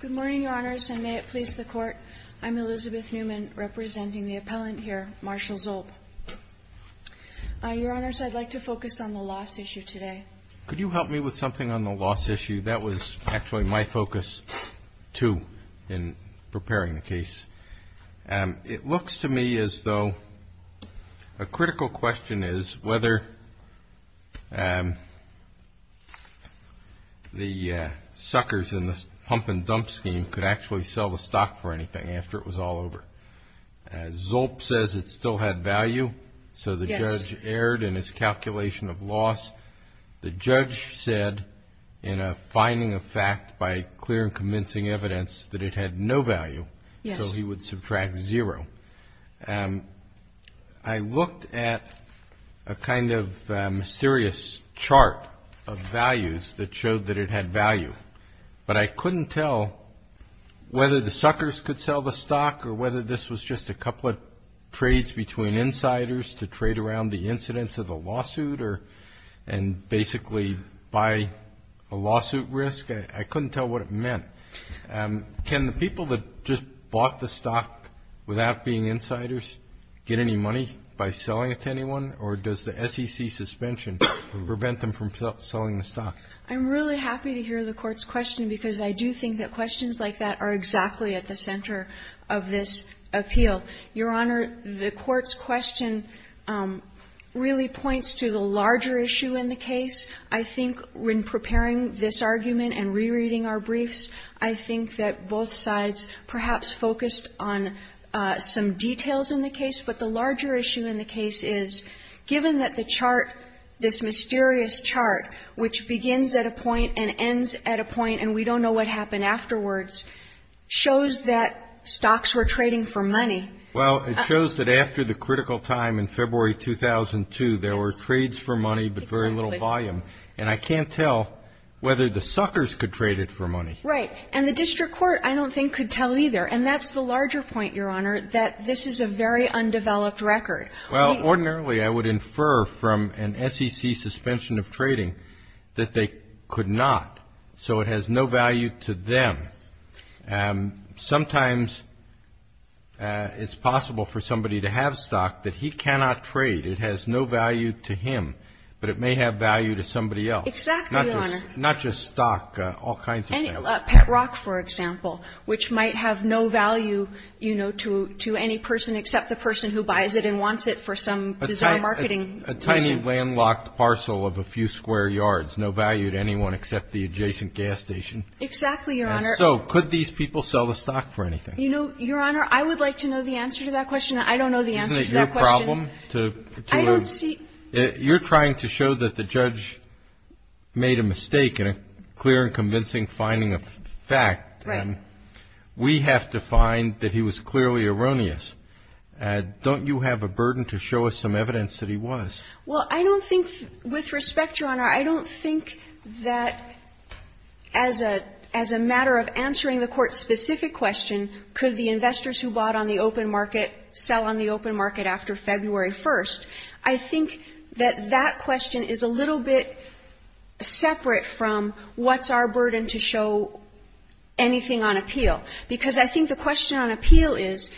Good morning, your honors, and may it please the court. I'm Elizabeth Newman, representing the appellant here, Marshall Zolp. Your honors, I'd like to focus on the loss issue today. Could you help me with something on the loss issue? That was actually my focus, too, in preparing the case. It looks to me as though a critical question is whether the suckers in the pump-and-dump scheme could actually sell the stock for anything after it was all over. Zolp says it still had value, so the judge erred in his calculation of loss. The judge said, in a finding of fact by clear and convincing evidence, that it had no value, so he would subtract zero. I looked at a kind of mysterious chart of values that showed that it had value, but I couldn't tell whether the suckers could sell the stock or whether this was just a couple of trades between insiders to trade around the incidents of the lawsuit and basically buy a lawsuit risk. I couldn't tell what it meant. Can the people that just bought the stock without being insiders get any money by selling it to anyone, or does the SEC suspension prevent them from selling the stock? Newman I'm really happy to hear the Court's question, because I do think that questions like that are exactly at the center of this appeal. Your Honor, the Court's question really points to the larger issue in the case. I think when preparing this argument and rereading our briefs, I think that both sides perhaps focused on some details in the case, but the larger issue in the case is, given that the chart, this mysterious chart, which begins at a point and ends at a point and we don't know what happened afterwards, shows that stocks were trading for money. Kennedy Well, it shows that after the critical time in February 2002, there were trades for money but very little volume. And I can't tell whether the suckers could trade it for money. Newman Right. And the district court I don't think could tell either. And that's the larger point, Your Honor, that this is a very undeveloped record. Kennedy Well, ordinarily I would infer from an SEC suspension of trading that they could not. So it has no value to them. Sometimes it's possible for somebody to have stock that he cannot trade. It has no value to him, but it may have value to somebody else. Newman Exactly, Your Honor. Kennedy Not just stock, all kinds of things. Newman Pet rock, for example, which might have no value, you know, to any person except the person who buys it and wants it for some design marketing reason. Kennedy A tiny landlocked parcel of a few square yards, no value to anyone except the adjacent gas station. Newman Exactly, Your Honor. Kennedy And so could these people sell the stock for anything? Newman You know, Your Honor, I would like to know the answer to that question. I don't know the answer to that question. Kennedy Isn't it your problem to look? Newman I don't see. Kennedy You're trying to show that the judge made a mistake in a clear and convincing finding of fact. Newman Right. But we have to find that he was clearly erroneous. Don't you have a burden to show us some evidence that he was? Newman Well, I don't think, with respect, Your Honor, I don't think that as a matter of answering the Court's specific question, could the investors who bought on the open market sell on the open market after February 1st, I think that that question is a little bit separate from what's our burden to show anything on appeal. Because I think the question on appeal is,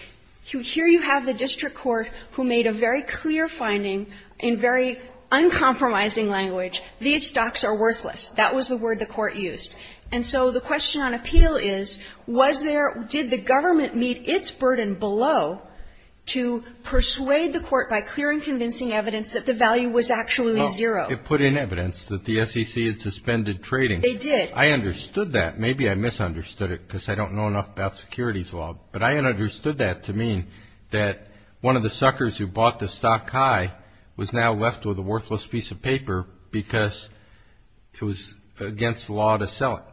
here you have the district court who made a very clear finding in very uncompromising language, these stocks are worthless. That was the word the Court used. And so the question on appeal is, was there, did the government meet its burden below to persuade the Court by clear and convincing evidence that the value was actually zero? Kennedy It put in evidence that the SEC had suspended trading. Newman They did. Kennedy I understood that. Maybe I misunderstood it because I don't know enough about securities law. But I understood that to mean that one of the suckers who bought the stock high was now left with a worthless piece of paper because it was against the law to sell it. Kennedy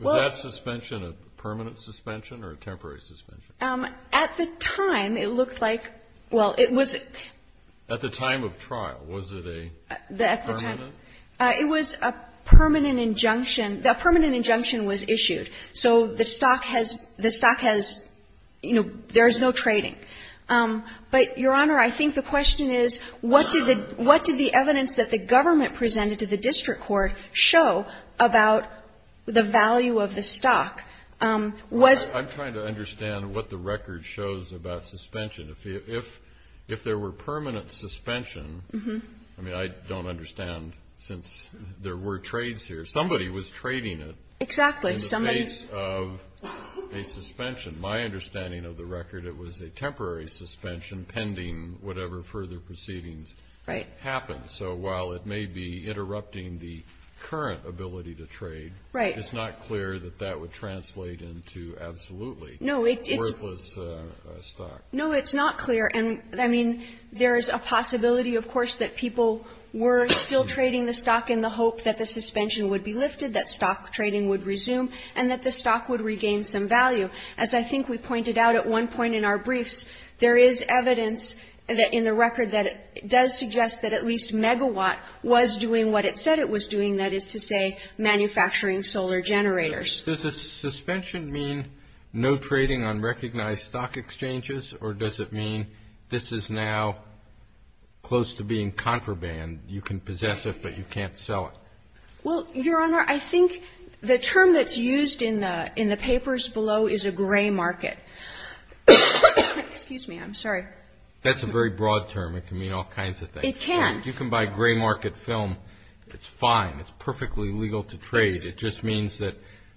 Was that suspension a permanent suspension or a temporary suspension? Newman At the time, it looked like, well, it was... Kennedy At the time of trial, was it a... Permanent? Newman It was a permanent injunction. A permanent injunction was issued. So the stock has, you know, there is no trading. But, Your Honor, I think the question is, what did the evidence that the government presented to the district court show about the value of the stock? Kennedy I'm trying to understand what the record shows about suspension. If there were permanent suspension, I mean, I don't understand since there were trades here. Somebody was trading it. Newman Exactly. Somebody... Kennedy In the face of a suspension. My understanding of the record, it was a temporary suspension pending whatever further proceedings... Newman Right. Kennedy ...happen. So while it may be interrupting the current ability to trade... Kennedy ...it's not clear that that would translate into absolutely worthless stock. Newman No, it's not. It's not clear. And, I mean, there is a possibility, of course, that people were still trading the stock in the hope that the suspension would be lifted, that stock trading would resume, and that the stock would regain some value. As I think we pointed out at one point in our briefs, there is evidence in the record that it does suggest that at least megawatt was doing what it said it was doing, that is to say, manufacturing solar generators. Kennedy Does a suspension mean no trading on recognized stock exchanges, or does it mean this is now close to being contraband? You can possess it, but you can't sell it. Newman Well, Your Honor, I think the term that's used in the papers below is a gray market. Excuse me. I'm sorry. Kennedy That's a very broad term. It can mean all kinds of things. Newman It can. It's fine. It's perfectly legal to trade. Newman Yes. Kennedy And it doesn't necessarily mean that it's not a black market. It doesn't mean that it's not a gray market. It just means that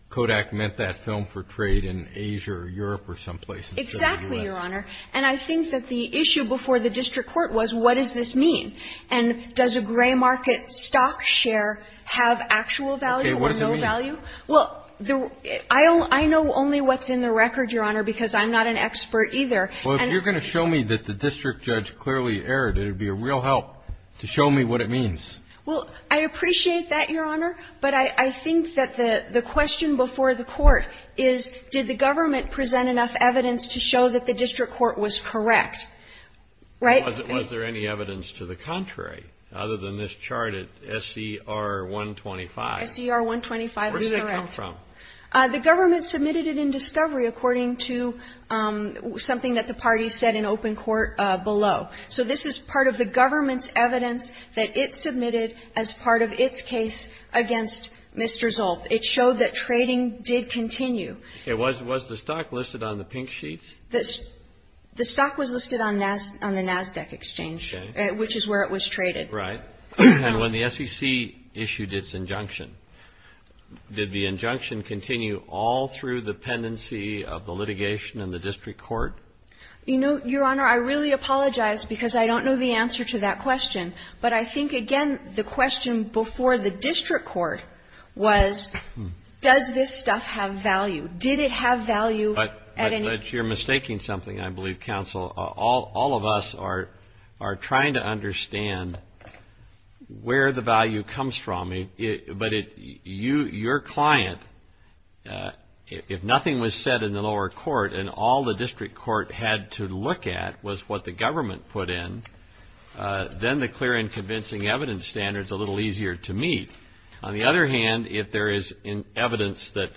Kodak meant that film for trade in Asia or Europe or some place in the U.S. Newman Exactly, Your Honor. And I think that the issue before the district court was what does this mean, and does a gray market stock share have actual value or no value. Kennedy Okay. What does it mean? Newman Well, I know only what's in the record, Your Honor, because I'm not an expert either. Kennedy Well, if you're going to show me that the district judge clearly erred, it would be a real help to show me what it means. Newman Well, I appreciate that, Your Honor. But I think that the question before the court is did the government present enough evidence to show that the district court was correct. Right? Kennedy Was there any evidence to the contrary other than this chart at SCR 125? Newman SCR 125 is correct. Kennedy Where did that come from? Newman The government submitted it in discovery, according to something that the parties said in open court below. So this is part of the government's evidence that it submitted as part of its case against Mr. Zolp. It showed that trading did continue. Kennedy Was the stock listed on the pink sheets? Newman The stock was listed on the NASDAQ exchange, which is where it was traded. Kennedy Right. And when the SEC issued its injunction, did the injunction continue all through the pendency of the litigation in the district court? Newman You know, Your Honor, I really apologize because I don't know the answer to that question. But I think, again, the question before the district court was does this stuff have value? Did it have value at any point? Kennedy But you're mistaking something, I believe, counsel. All of us are trying to understand where the value comes from. But your client, if nothing was said in the lower court and all the district court had to look at was what the government put in, then the clear and convincing evidence standard is a little easier to meet. On the other hand, if there is evidence that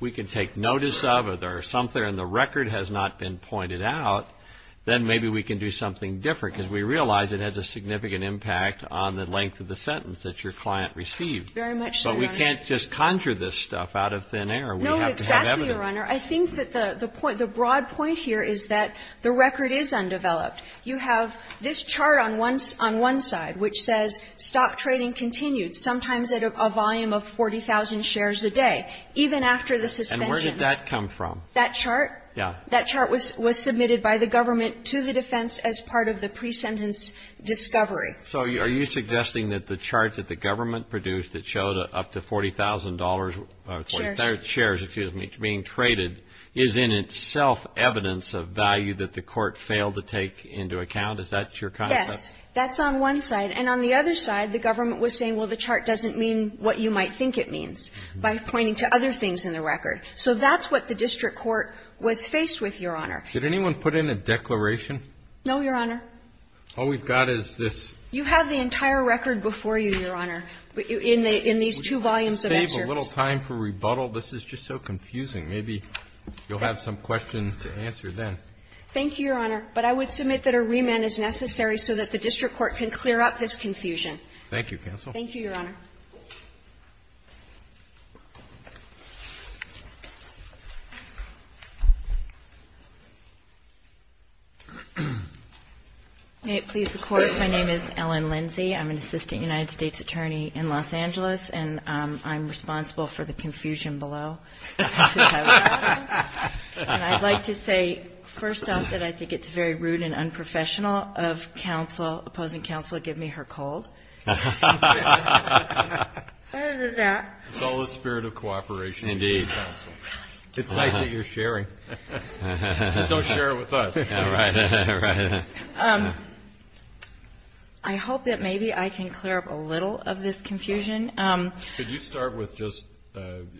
we can take notice of or there is something and the record has not been pointed out, then maybe we can do something different, because we realize it has a significant impact on the length of the sentence that your client received. But we can't just conjure this stuff out of thin air. We have to have evidence. Newman No, exactly, Your Honor. I think that the point, the broad point here is that the record is undeveloped. You have this chart on one side which says stock trading continued, sometimes at a volume of 40,000 shares a day, even after the suspension. Kennedy And where did that come from? Newman That chart? Kennedy Yeah. Newman That chart was submitted by the government to the defense as part of the pre-sentence discovery. Kennedy So are you suggesting that the chart that the government produced that showed up to $40,000 or 40,000 shares, excuse me, being traded is in itself evidence of value that the court failed to take into account? Is that your concept? Newman Yes. That's on one side. And on the other side, the government was saying, well, the chart doesn't mean what you might think it means by pointing to other things in the record. So that's what the district court was faced with, Your Honor. Kennedy Did anyone put in a declaration? Newman No, Your Honor. Kennedy All we've got is this. Newman You have the entire record before you, Your Honor, in these two volumes of excerpts. Kennedy Would you save a little time for rebuttal? This is just so confusing. Maybe you'll have some questions to answer then. Newman Thank you, Your Honor. But I would submit that a remand is necessary so that the district court can clear up this confusion. Kennedy Thank you, counsel. Newman Thank you, Your Honor. Ms. Lindsay May it please the Court, my name is Ellen Lindsay. I'm an assistant United States attorney in Los Angeles. And I'm responsible for the confusion below. And I'd like to say, first off, that I think it's very rude and unprofessional of counsel, opposing counsel, to give me her cold. It's all in the spirit of cooperation. It's nice that you're sharing. Just don't share it with us. Ms. Lindsay I hope that maybe I can clear up a little of this confusion. Kennedy Could you start with just,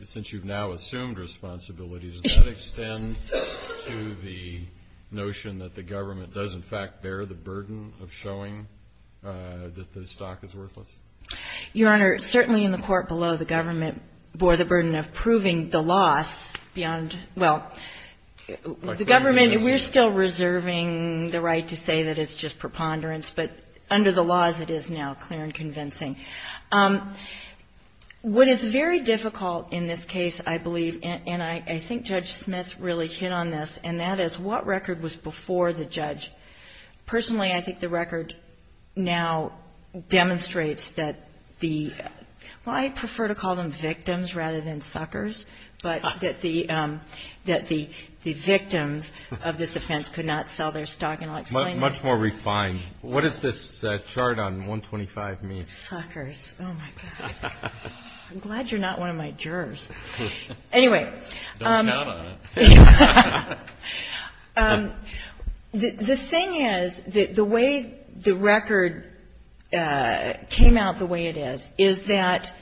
since you've now assumed responsibility, does that extend to the notion that the government does in fact bear the burden of showing that the stock is worthless? Ms. Lindsay Your Honor, certainly in the court below, the government bore the burden of proving the loss beyond, well, the government, we're still reserving the right to say that it's just preponderance, but under the laws it is now clear and convincing. What is very difficult in this case, I believe, and I think Judge Smith really hit on this, and that is what record was before the judge? Personally, I think the record now demonstrates that the, well, I prefer to call them victims rather than suckers, but that the victims of this offense could not sell their stock. And I'll explain that. Kennedy Much more refined. What does this chart on 125 mean? Ms. Lindsay Suckers. Oh, my God. I'm glad you're not one of my jurors. Anyway. Kennedy Don't count on it. The thing is, the way the record came out the way it is, is that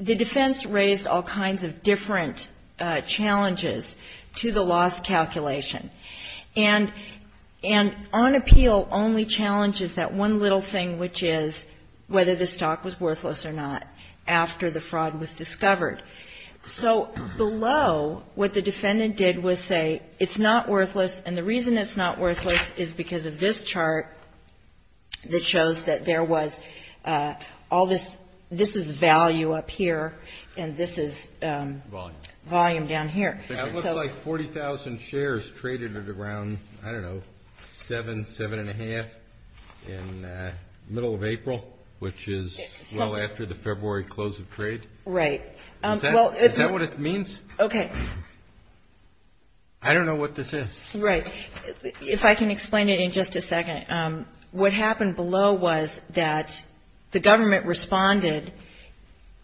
the defense raised all kinds of different challenges to the loss calculation. And on appeal, only challenge is that one little thing, which is whether the stock was worthless So below, what the defendant did was say, it's not worthless, and the reason it's not worthless is because of this chart that shows that there was all this, this is value up here, and this is volume down here. That looks like 40,000 shares traded at around, I don't know, 7, 7 1⁄2 in the middle of April, which is well after the February close of trade. Right. Is that what it means? Okay. I don't know what this is. Right. If I can explain it in just a second. What happened below was that the government responded,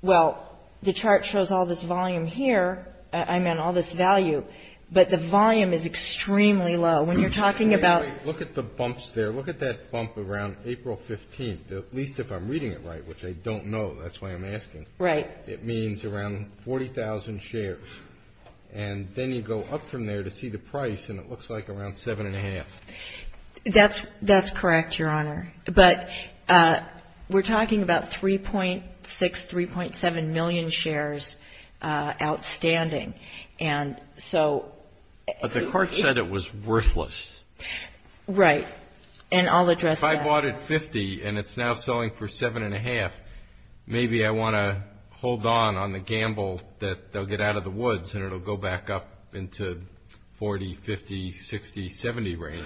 well, the chart shows all this volume here, I meant all this value, but the volume is extremely low. When you're talking about Anyway, look at the bumps there. Look at that bump around April 15th, at least if I'm reading it right, which I don't know. That's why I'm asking. Right. It means around 40,000 shares, and then you go up from there to see the price, and it looks like around 7 1⁄2. That's correct, Your Honor, but we're talking about 3.6, 3.7 million shares outstanding, and so But the chart said it was worthless. Right, and I'll address that. If I bought at 50 and it's now selling for 7 1⁄2, maybe I want to hold on on the gamble that they'll get out of the woods and it'll go back up into 40, 50, 60, 70 range.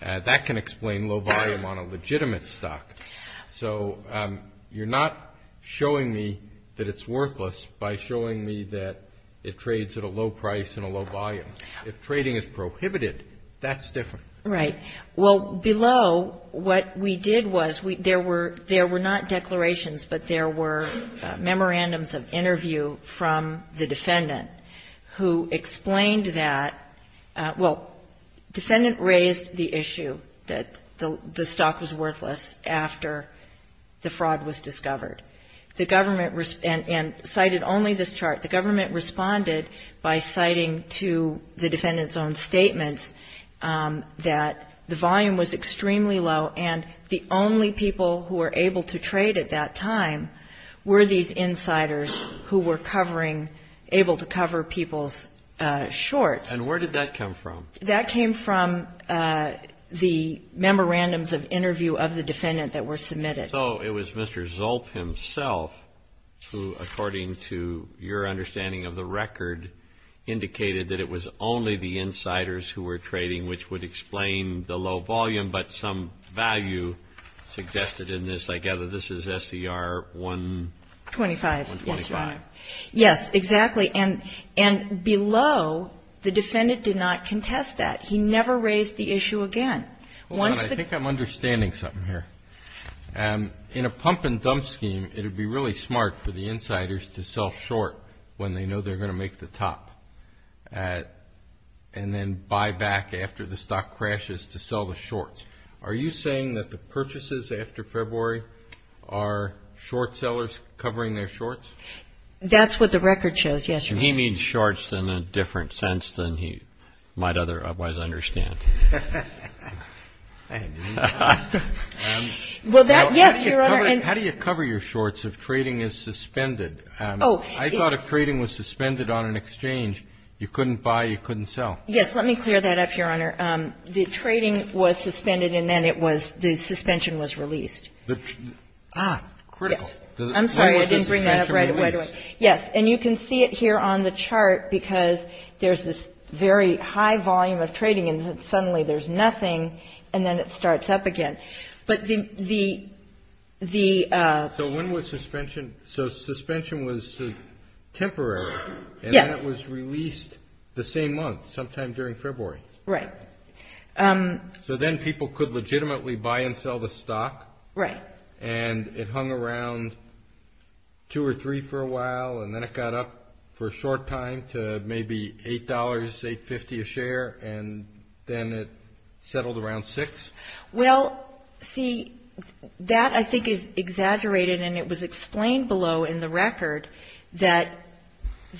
That can explain low volume on a legitimate stock. So you're not showing me that it's worthless by showing me that it trades at a low price and a low volume. If trading is prohibited, that's different. Right. Well, below what we did was there were not declarations, but there were memorandums of interview from the defendant who explained that, well, defendant raised the issue that the stock was worthless after the fraud was discovered. The government, and cited only this chart, the government responded by citing to the defendant's own statements that the volume was extremely low and the only people who were able to trade at that time were these insiders who were covering, able to cover people's shorts. And where did that come from? That came from the memorandums of interview of the defendant that were submitted. So it was Mr. Zulp himself who, according to your understanding of the record, indicated that it was only the insiders who were trading which would explain the low volume, but some value suggested in this. I gather this is SCR 125. Yes, exactly. And below, the defendant did not contest that. He never raised the issue again. I think I'm understanding something here. In a pump and dump scheme, it would be really smart for the insiders to sell short when they know they're going to make the top and then buy back after the stock crashes to sell the shorts. Are you saying that the purchases after February are short sellers covering their shorts? That's what the record shows, yes. He means shorts in a different sense than he might otherwise understand. Well, that, yes, Your Honor. How do you cover your shorts if trading is suspended? I thought if trading was suspended on an exchange, you couldn't buy, you couldn't sell. Yes. Let me clear that up, Your Honor. The trading was suspended and then it was, the suspension was released. Ah, critical. I'm sorry. I didn't bring that up right away. Yes. And you can see it here on the chart because there's this very high volume of trading and suddenly there's nothing and then it starts up again. But the, the, the. So when was suspension, so suspension was temporary. Yes. And then it was released the same month, sometime during February. Right. So then people could legitimately buy and sell the stock. Right. And it hung around two or three for a while and then it got up for a short time to maybe $8, $8.50 a share and then it settled around six. Well, see, that I think is exaggerated and it was explained below in the record that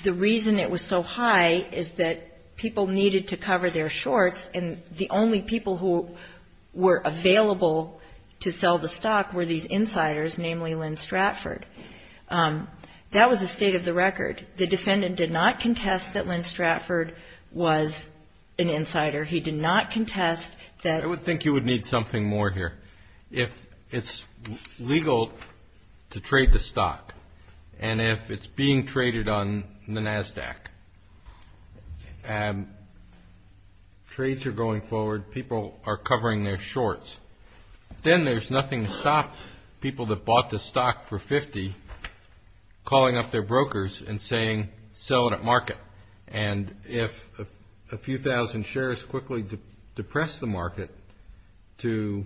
the reason it was so high is that people needed to cover their shorts and the only people who were available to sell the stock were these insiders, namely Lynn Stratford. That was the state of the record. The defendant did not contest that Lynn Stratford was an insider. He did not contest that. I would think you would need something more here. If it's legal to trade the stock and if it's being traded on the NASDAQ and trades are going forward, people are covering their shorts, then there's nothing to stop people that bought the stock for $50 calling up their brokers And if a few thousand shares quickly depress the market to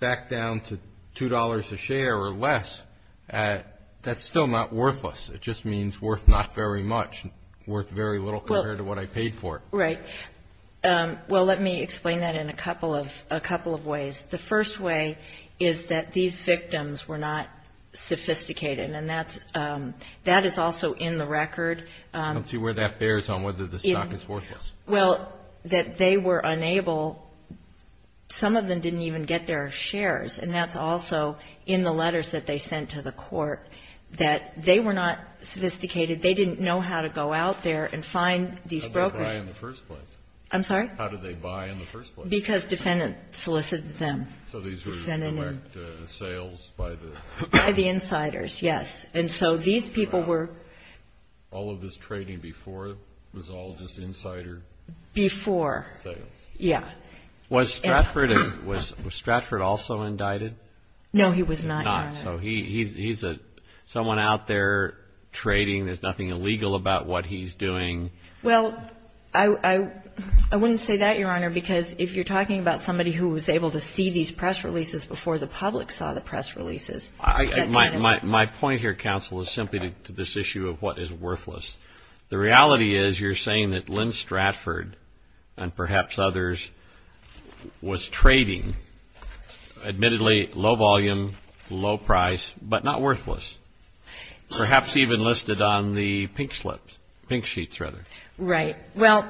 back down to $2 a share or less, that's still not worthless. It just means worth not very much, worth very little compared to what I paid for it. Right. Well, let me explain that in a couple of ways. The first way is that these victims were not sophisticated and that is also in the record. I don't see where that bears on whether the stock is worthless. Well, that they were unable, some of them didn't even get their shares, and that's also in the letters that they sent to the court, that they were not sophisticated. They didn't know how to go out there and find these brokers. How did they buy in the first place? I'm sorry? How did they buy in the first place? Because defendants solicited them. So these were direct sales by the? By the insiders, yes. And so these people were? All of this trading before was all just insider? Before. Sales. Yeah. Was Stratford also indicted? No, he was not, Your Honor. So he's someone out there trading. There's nothing illegal about what he's doing. Well, I wouldn't say that, Your Honor, because if you're talking about somebody who was able to see these press releases before the public saw the press releases. My point here, counsel, is simply to this issue of what is worthless. The reality is you're saying that Lynn Stratford and perhaps others was trading, admittedly, low volume, low price, but not worthless, perhaps even listed on the pink slips, pink sheets, rather. Right. Well,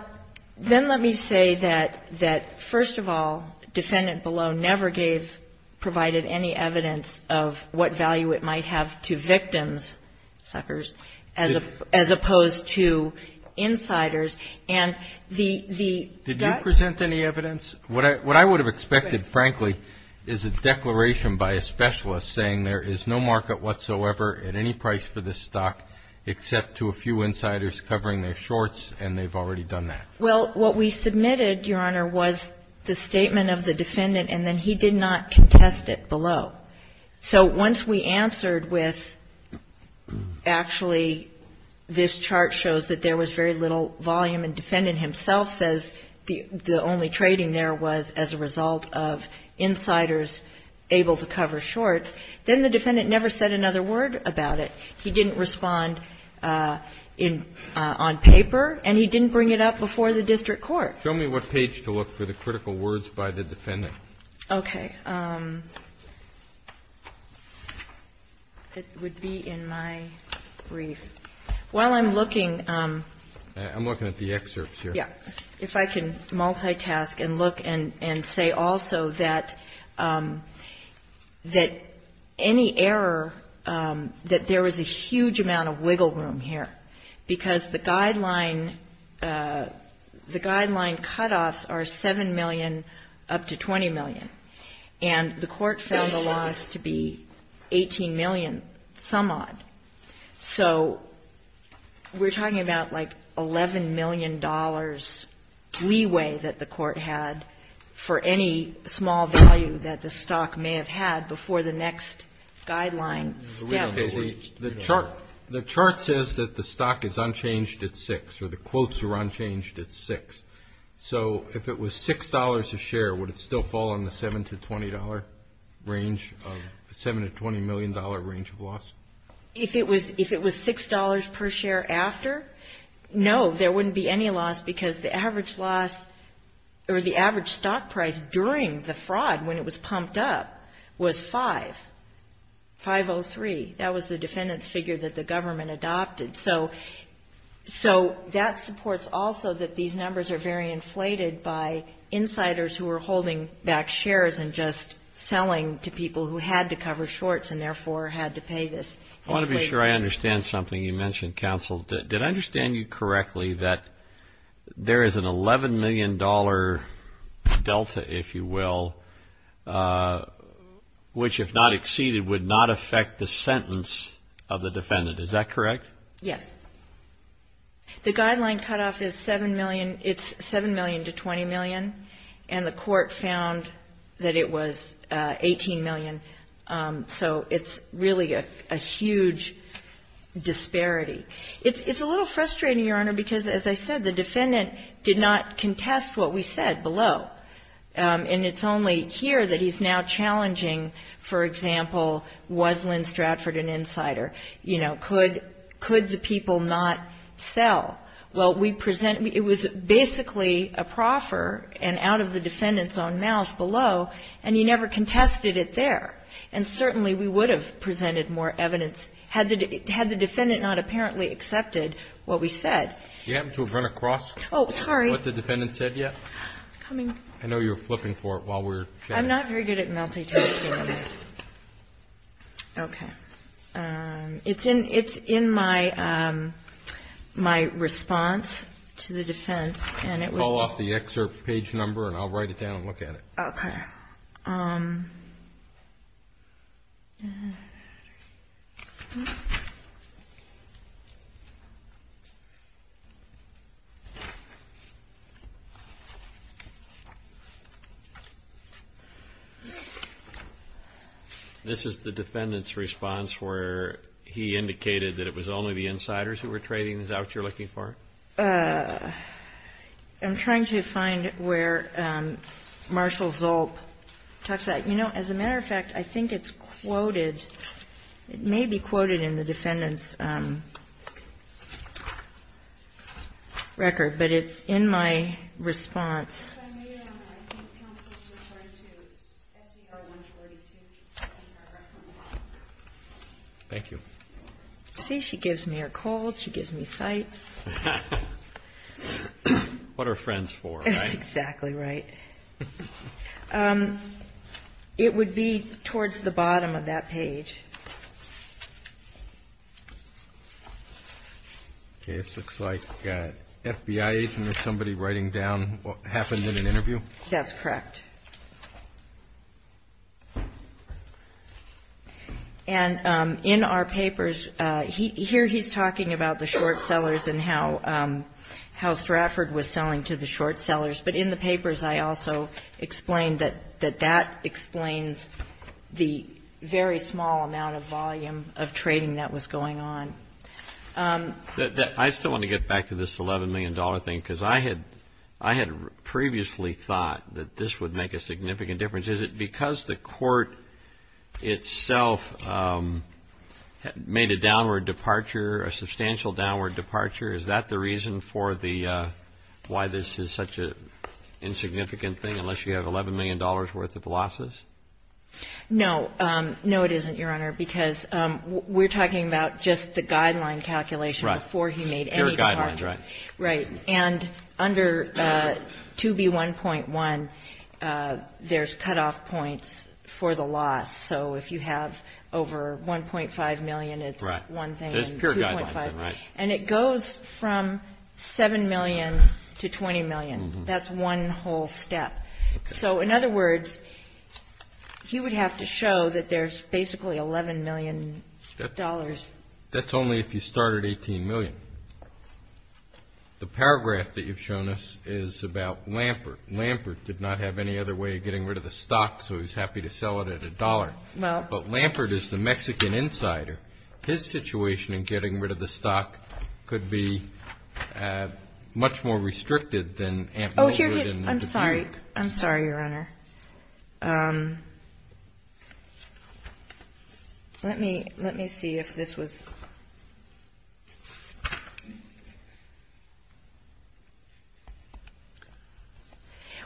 then let me say that, first of all, defendant below never gave, provided any evidence of what value it might have to victims, suckers, as opposed to insiders. And the guys? Did you present any evidence? What I would have expected, frankly, is a declaration by a specialist saying there is no market whatsoever at any price for this stock except to a few insiders covering their shorts, and they've already done that. Well, what we submitted, Your Honor, was the statement of the defendant, and then he did not contest it below. So once we answered with actually this chart shows that there was very little volume and defendant himself says the only trading there was as a result of insiders able to cover shorts, then the defendant never said another word about it. He didn't respond on paper, and he didn't bring it up before the district court. Show me what page to look for the critical words by the defendant. Okay. It would be in my brief. While I'm looking. I'm looking at the excerpts here. Yeah. If I can multitask and look and say also that any error, that there was a huge amount of wiggle room here, because the guideline cutoffs are $7 million up to $20 million. And the court found the loss to be $18 million, some odd. So we're talking about like $11 million leeway that the court had for any small value that the stock may have had before the next guideline step. The chart says that the stock is unchanged at 6, or the quotes are unchanged at 6. So if it was $6 a share, would it still fall in the $7 to $20 range of the $7 to $20 million range of loss? If it was $6 per share after, no, there wouldn't be any loss because the average loss or the average stock price during the fraud when it was pumped up was 5, 503. That was the defendant's figure that the government adopted. So that supports also that these numbers are very inflated by insiders who are holding back shares and just selling to people who had to cover shorts and therefore had to pay this. I want to be sure I understand something you mentioned, counsel. Did I understand you correctly that there is an $11 million delta, if you will, which if not exceeded would not affect the sentence of the defendant? Is that correct? Yes. The guideline cutoff is $7 million. It's $7 million to $20 million, and the Court found that it was $18 million. So it's really a huge disparity. It's a little frustrating, Your Honor, because as I said, the defendant did not contest what we said below. And it's only here that he's now challenging, for example, was Lynn Stratford an insider? You know, could the people not sell? Well, we present we – it was basically a proffer and out of the defendant's own mouth below, and he never contested it there. And certainly we would have presented more evidence had the defendant not apparently accepted what we said. Do you happen to have run across what the defendant said yet? Oh, sorry. I know you were flipping for it while we were chatting. I'm not very good at multitasking. Okay. It's in my response to the defense, and it was – Call off the excerpt page number, and I'll write it down and look at it. Okay. This is the defendant's response where he indicated that it was only the insiders who were trading. Is that what you're looking for? I'm trying to find where Marshall Zulp talks about it. You know, as a matter of fact, I think it's quoted. It may be quoted in the defendant's record, but it's in my response. Thank you. See, she gives me her call. She gives me sites. What are friends for, right? That's exactly right. It would be towards the bottom of that page. Okay. This looks like FBI agent or somebody writing down what happened in an interview. That's correct. And in our papers, here he's talking about the short sellers and how Stratford was selling to the short sellers. But in the papers, I also explained that that explains the very small amount of volume of trading that was going on. I still want to get back to this $11 million thing, because I had previously thought that this would make a significant difference. Is it because the court itself made a downward departure, a substantial downward departure? Is that the reason for the why this is such an insignificant thing, unless you have $11 million worth of losses? No. No, it isn't, Your Honor, because we're talking about just the guideline calculation before he made any departure. Right. And under 2B1.1, there's cutoff points for the loss. So if you have over 1.5 million, it's one thing and 2.5 million. Right. And it goes from 7 million to 20 million. That's one whole step. So, in other words, he would have to show that there's basically $11 million. That's only if you start at 18 million. The paragraph that you've shown us is about Lampert. Lampert did not have any other way of getting rid of the stock, so he's happy to sell it at $1. But Lampert is the Mexican insider. His situation in getting rid of the stock could be much more restricted than Amtler would. I'm sorry. I'm sorry, Your Honor. Let me see if this was ----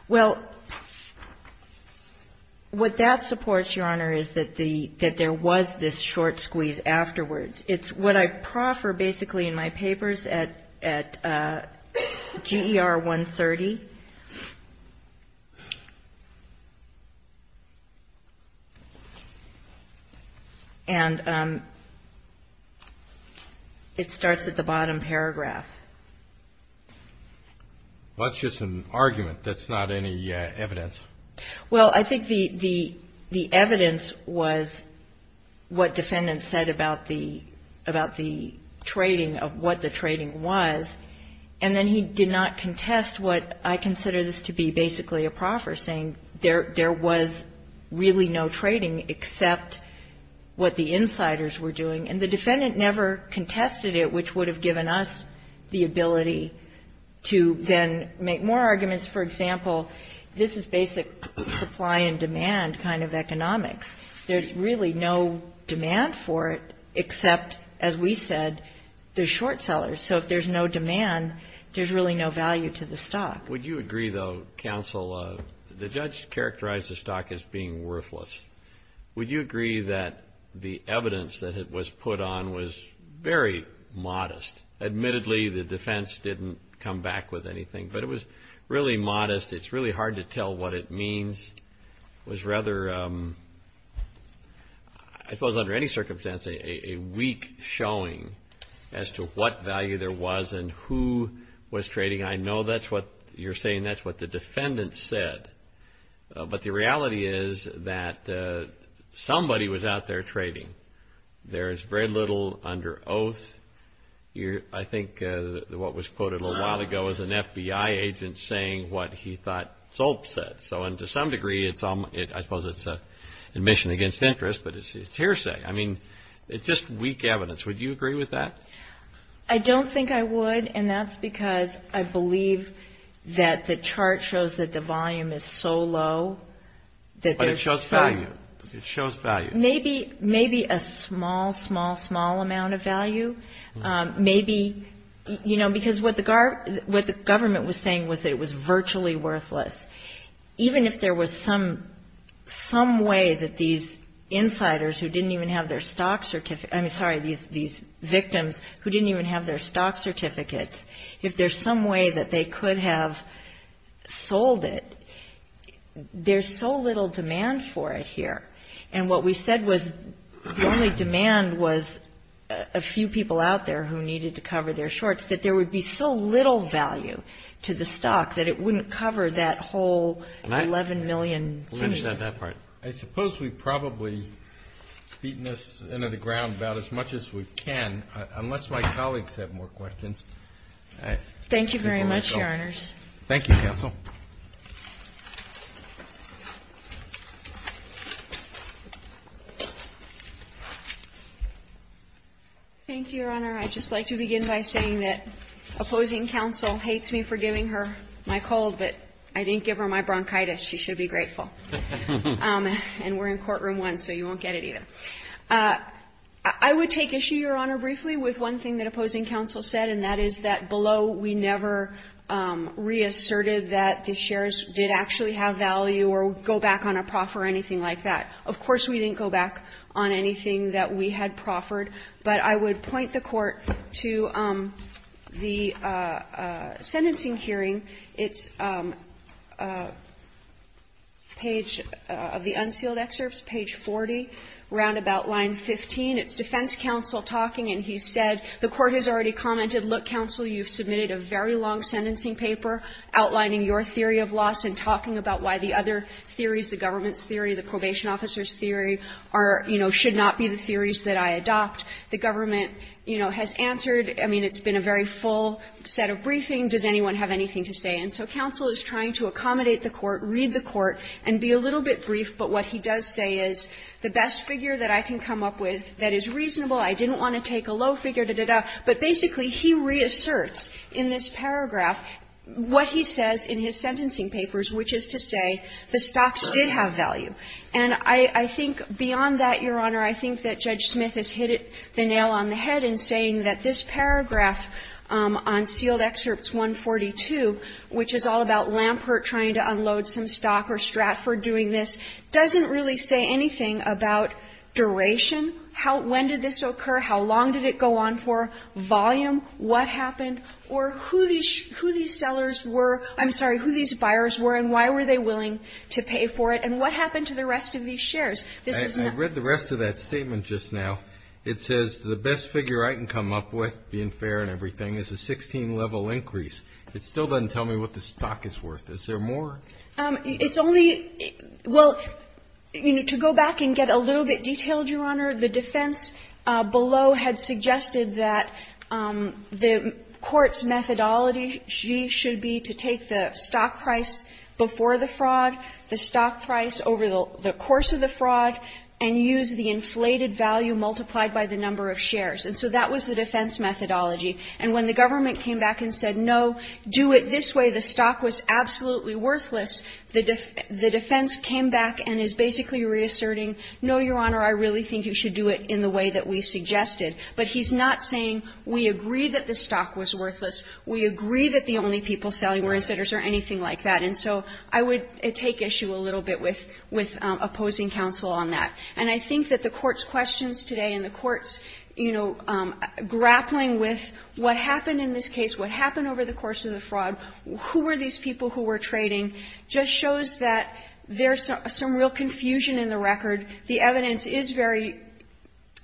Well, what that supports, Your Honor, is that there was this short squeeze afterwards. It's what I proffer basically in my papers at GER 130. And it starts at the bottom paragraph. Well, that's just an argument. That's not any evidence. Well, I think the evidence was what defendants said about the trading, of what the trading was. And then he did not contest what I consider this to be basically a proffer, saying there was really no trading except what the insiders were doing. And the defendant never contested it, which would have given us the ability to then make more arguments. For example, this is basic supply and demand kind of economics. There's really no demand for it except, as we said, the short sellers. So if there's no demand, there's really no value to the stock. Would you agree, though, counsel, the judge characterized the stock as being worthless. Would you agree that the evidence that it was put on was very modest? Admittedly, the defense didn't come back with anything, but it was really modest. It's really hard to tell what it means. It was rather, I suppose under any circumstance, a weak showing as to what value there was and who was trading. I know that's what you're saying, that's what the defendants said. But the reality is that somebody was out there trading. There is very little under oath. I think what was quoted a little while ago was an FBI agent saying what he thought Zolp said. So to some degree, I suppose it's an admission against interest, but it's hearsay. I mean, it's just weak evidence. Would you agree with that? I don't think I would, and that's because I believe that the chart shows that the volume is so low. But it shows value. It shows value. Maybe a small, small, small amount of value. Maybe, you know, because what the government was saying was that it was virtually worthless. Even if there was some way that these insiders who didn't even have their stock certificate, I mean, sorry, these victims who didn't even have their stock certificates, if there's some way that they could have sold it, there's so little demand for it here. And what we said was the only demand was a few people out there who needed to cover their shorts, that there would be so little value to the stock that it wouldn't cover that whole 11 million. Can I finish on that part? I suppose we've probably beaten this into the ground about as much as we can, unless my colleagues have more questions. Thank you very much, Your Honors. Thank you, counsel. Thank you, Your Honor. I'd just like to begin by saying that opposing counsel hates me for giving her my cold, but I didn't give her my bronchitis. She should be grateful. And we're in courtroom one, so you won't get it either. I would take issue, Your Honor, briefly with one thing that opposing counsel said, and that is that below we never reasserted that the shares did actually have value or go back on a proffer or anything like that. Of course, we didn't go back on anything that we had proffered. But I would point the Court to the sentencing hearing. It's page of the unsealed excerpts, page 40, roundabout line 15. It's defense counsel talking, and he said, the Court has already commented, look, counsel, you've submitted a very long sentencing paper outlining your theory of loss and talking about why the other theories, the government's theory, the probation officer's theory, are, you know, should not be the theories that I adopt. The government, you know, has answered. I mean, it's been a very full set of briefings. Does anyone have anything to say? And so counsel is trying to accommodate the Court, read the Court, and be a little bit brief, but what he does say is the best figure that I can come up with that is reasonable, I didn't want to take a low figure, da, da, da. But basically, he reasserts in this paragraph what he says in his sentencing papers, which is to say the stocks did have value. And I think beyond that, Your Honor, I think that Judge Smith has hit it, the nail on the head, in saying that this paragraph on sealed excerpts 142, which is all about this, doesn't really say anything about duration, how, when did this occur, how long did it go on for, volume, what happened, or who these sellers were, I'm sorry, who these buyers were and why were they willing to pay for it, and what happened to the rest of these shares. This is not. I read the rest of that statement just now. It says the best figure I can come up with, being fair and everything, is a 16-level increase. It still doesn't tell me what the stock is worth. Is there more? It's only – well, you know, to go back and get a little bit detailed, Your Honor, the defense below had suggested that the Court's methodology should be to take the stock price before the fraud, the stock price over the course of the fraud, and use the inflated value multiplied by the number of shares. And so that was the defense methodology. And when the government came back and said, no, do it this way, the stock was absolutely worthless, the defense came back and is basically reasserting, no, Your Honor, I really think you should do it in the way that we suggested. But he's not saying, we agree that the stock was worthless. We agree that the only people selling were insiders or anything like that. And so I would take issue a little bit with opposing counsel on that. And I think that the Court's questions today and the Court's, you know, grappling with what happened in this case, what happened over the course of the fraud, who were these people who were trading, just shows that there's some real confusion in the record. The evidence is very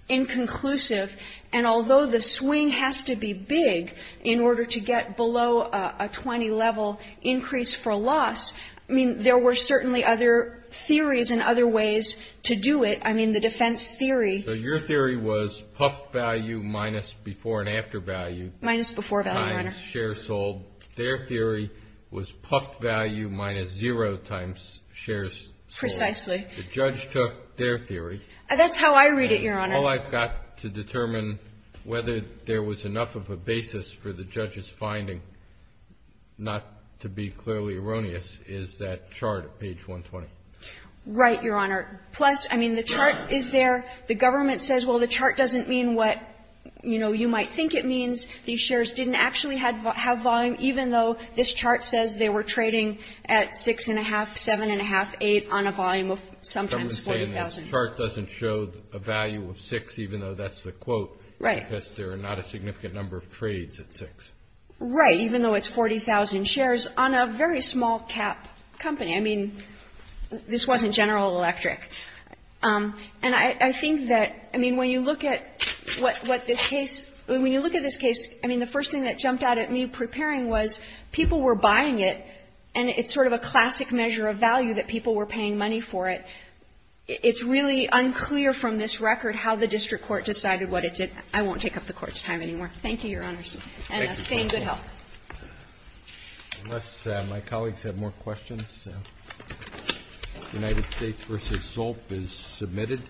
inconclusive. And although the swing has to be big in order to get below a 20-level increase for loss, I mean, there were certainly other theories and other ways to do it. I mean, the defense theory. So your theory was puff value minus before and after value. Minus before value, Your Honor. Times shares sold. Their theory was puff value minus zero times shares sold. Precisely. The judge took their theory. That's how I read it, Your Honor. All I've got to determine whether there was enough of a basis for the judge's finding, not to be clearly erroneous, is that chart at page 120. Right, Your Honor. Plus, I mean, the chart is there. The government says, well, the chart doesn't mean what, you know, you might think it means. These shares didn't actually have volume, even though this chart says they were trading at 6,500, 7,500, 8,000 on a volume of sometimes 40,000. The chart doesn't show a value of 6,000, even though that's the quote. Right. Because there are not a significant number of trades at 6,000. Right. Even though it's 40,000 shares on a very small-cap company. I mean, this wasn't General Electric. And I think that, I mean, when you look at what this case – when you look at this case, I mean, the first thing that jumped out at me preparing was people were buying it, and it's sort of a classic measure of value that people were paying money for it. It's really unclear from this record how the district court decided what it did. I won't take up the Court's time anymore. Thank you, Your Honors. Thank you. And stay in good health. Unless my colleagues have more questions, United States v. Zolp is submitted.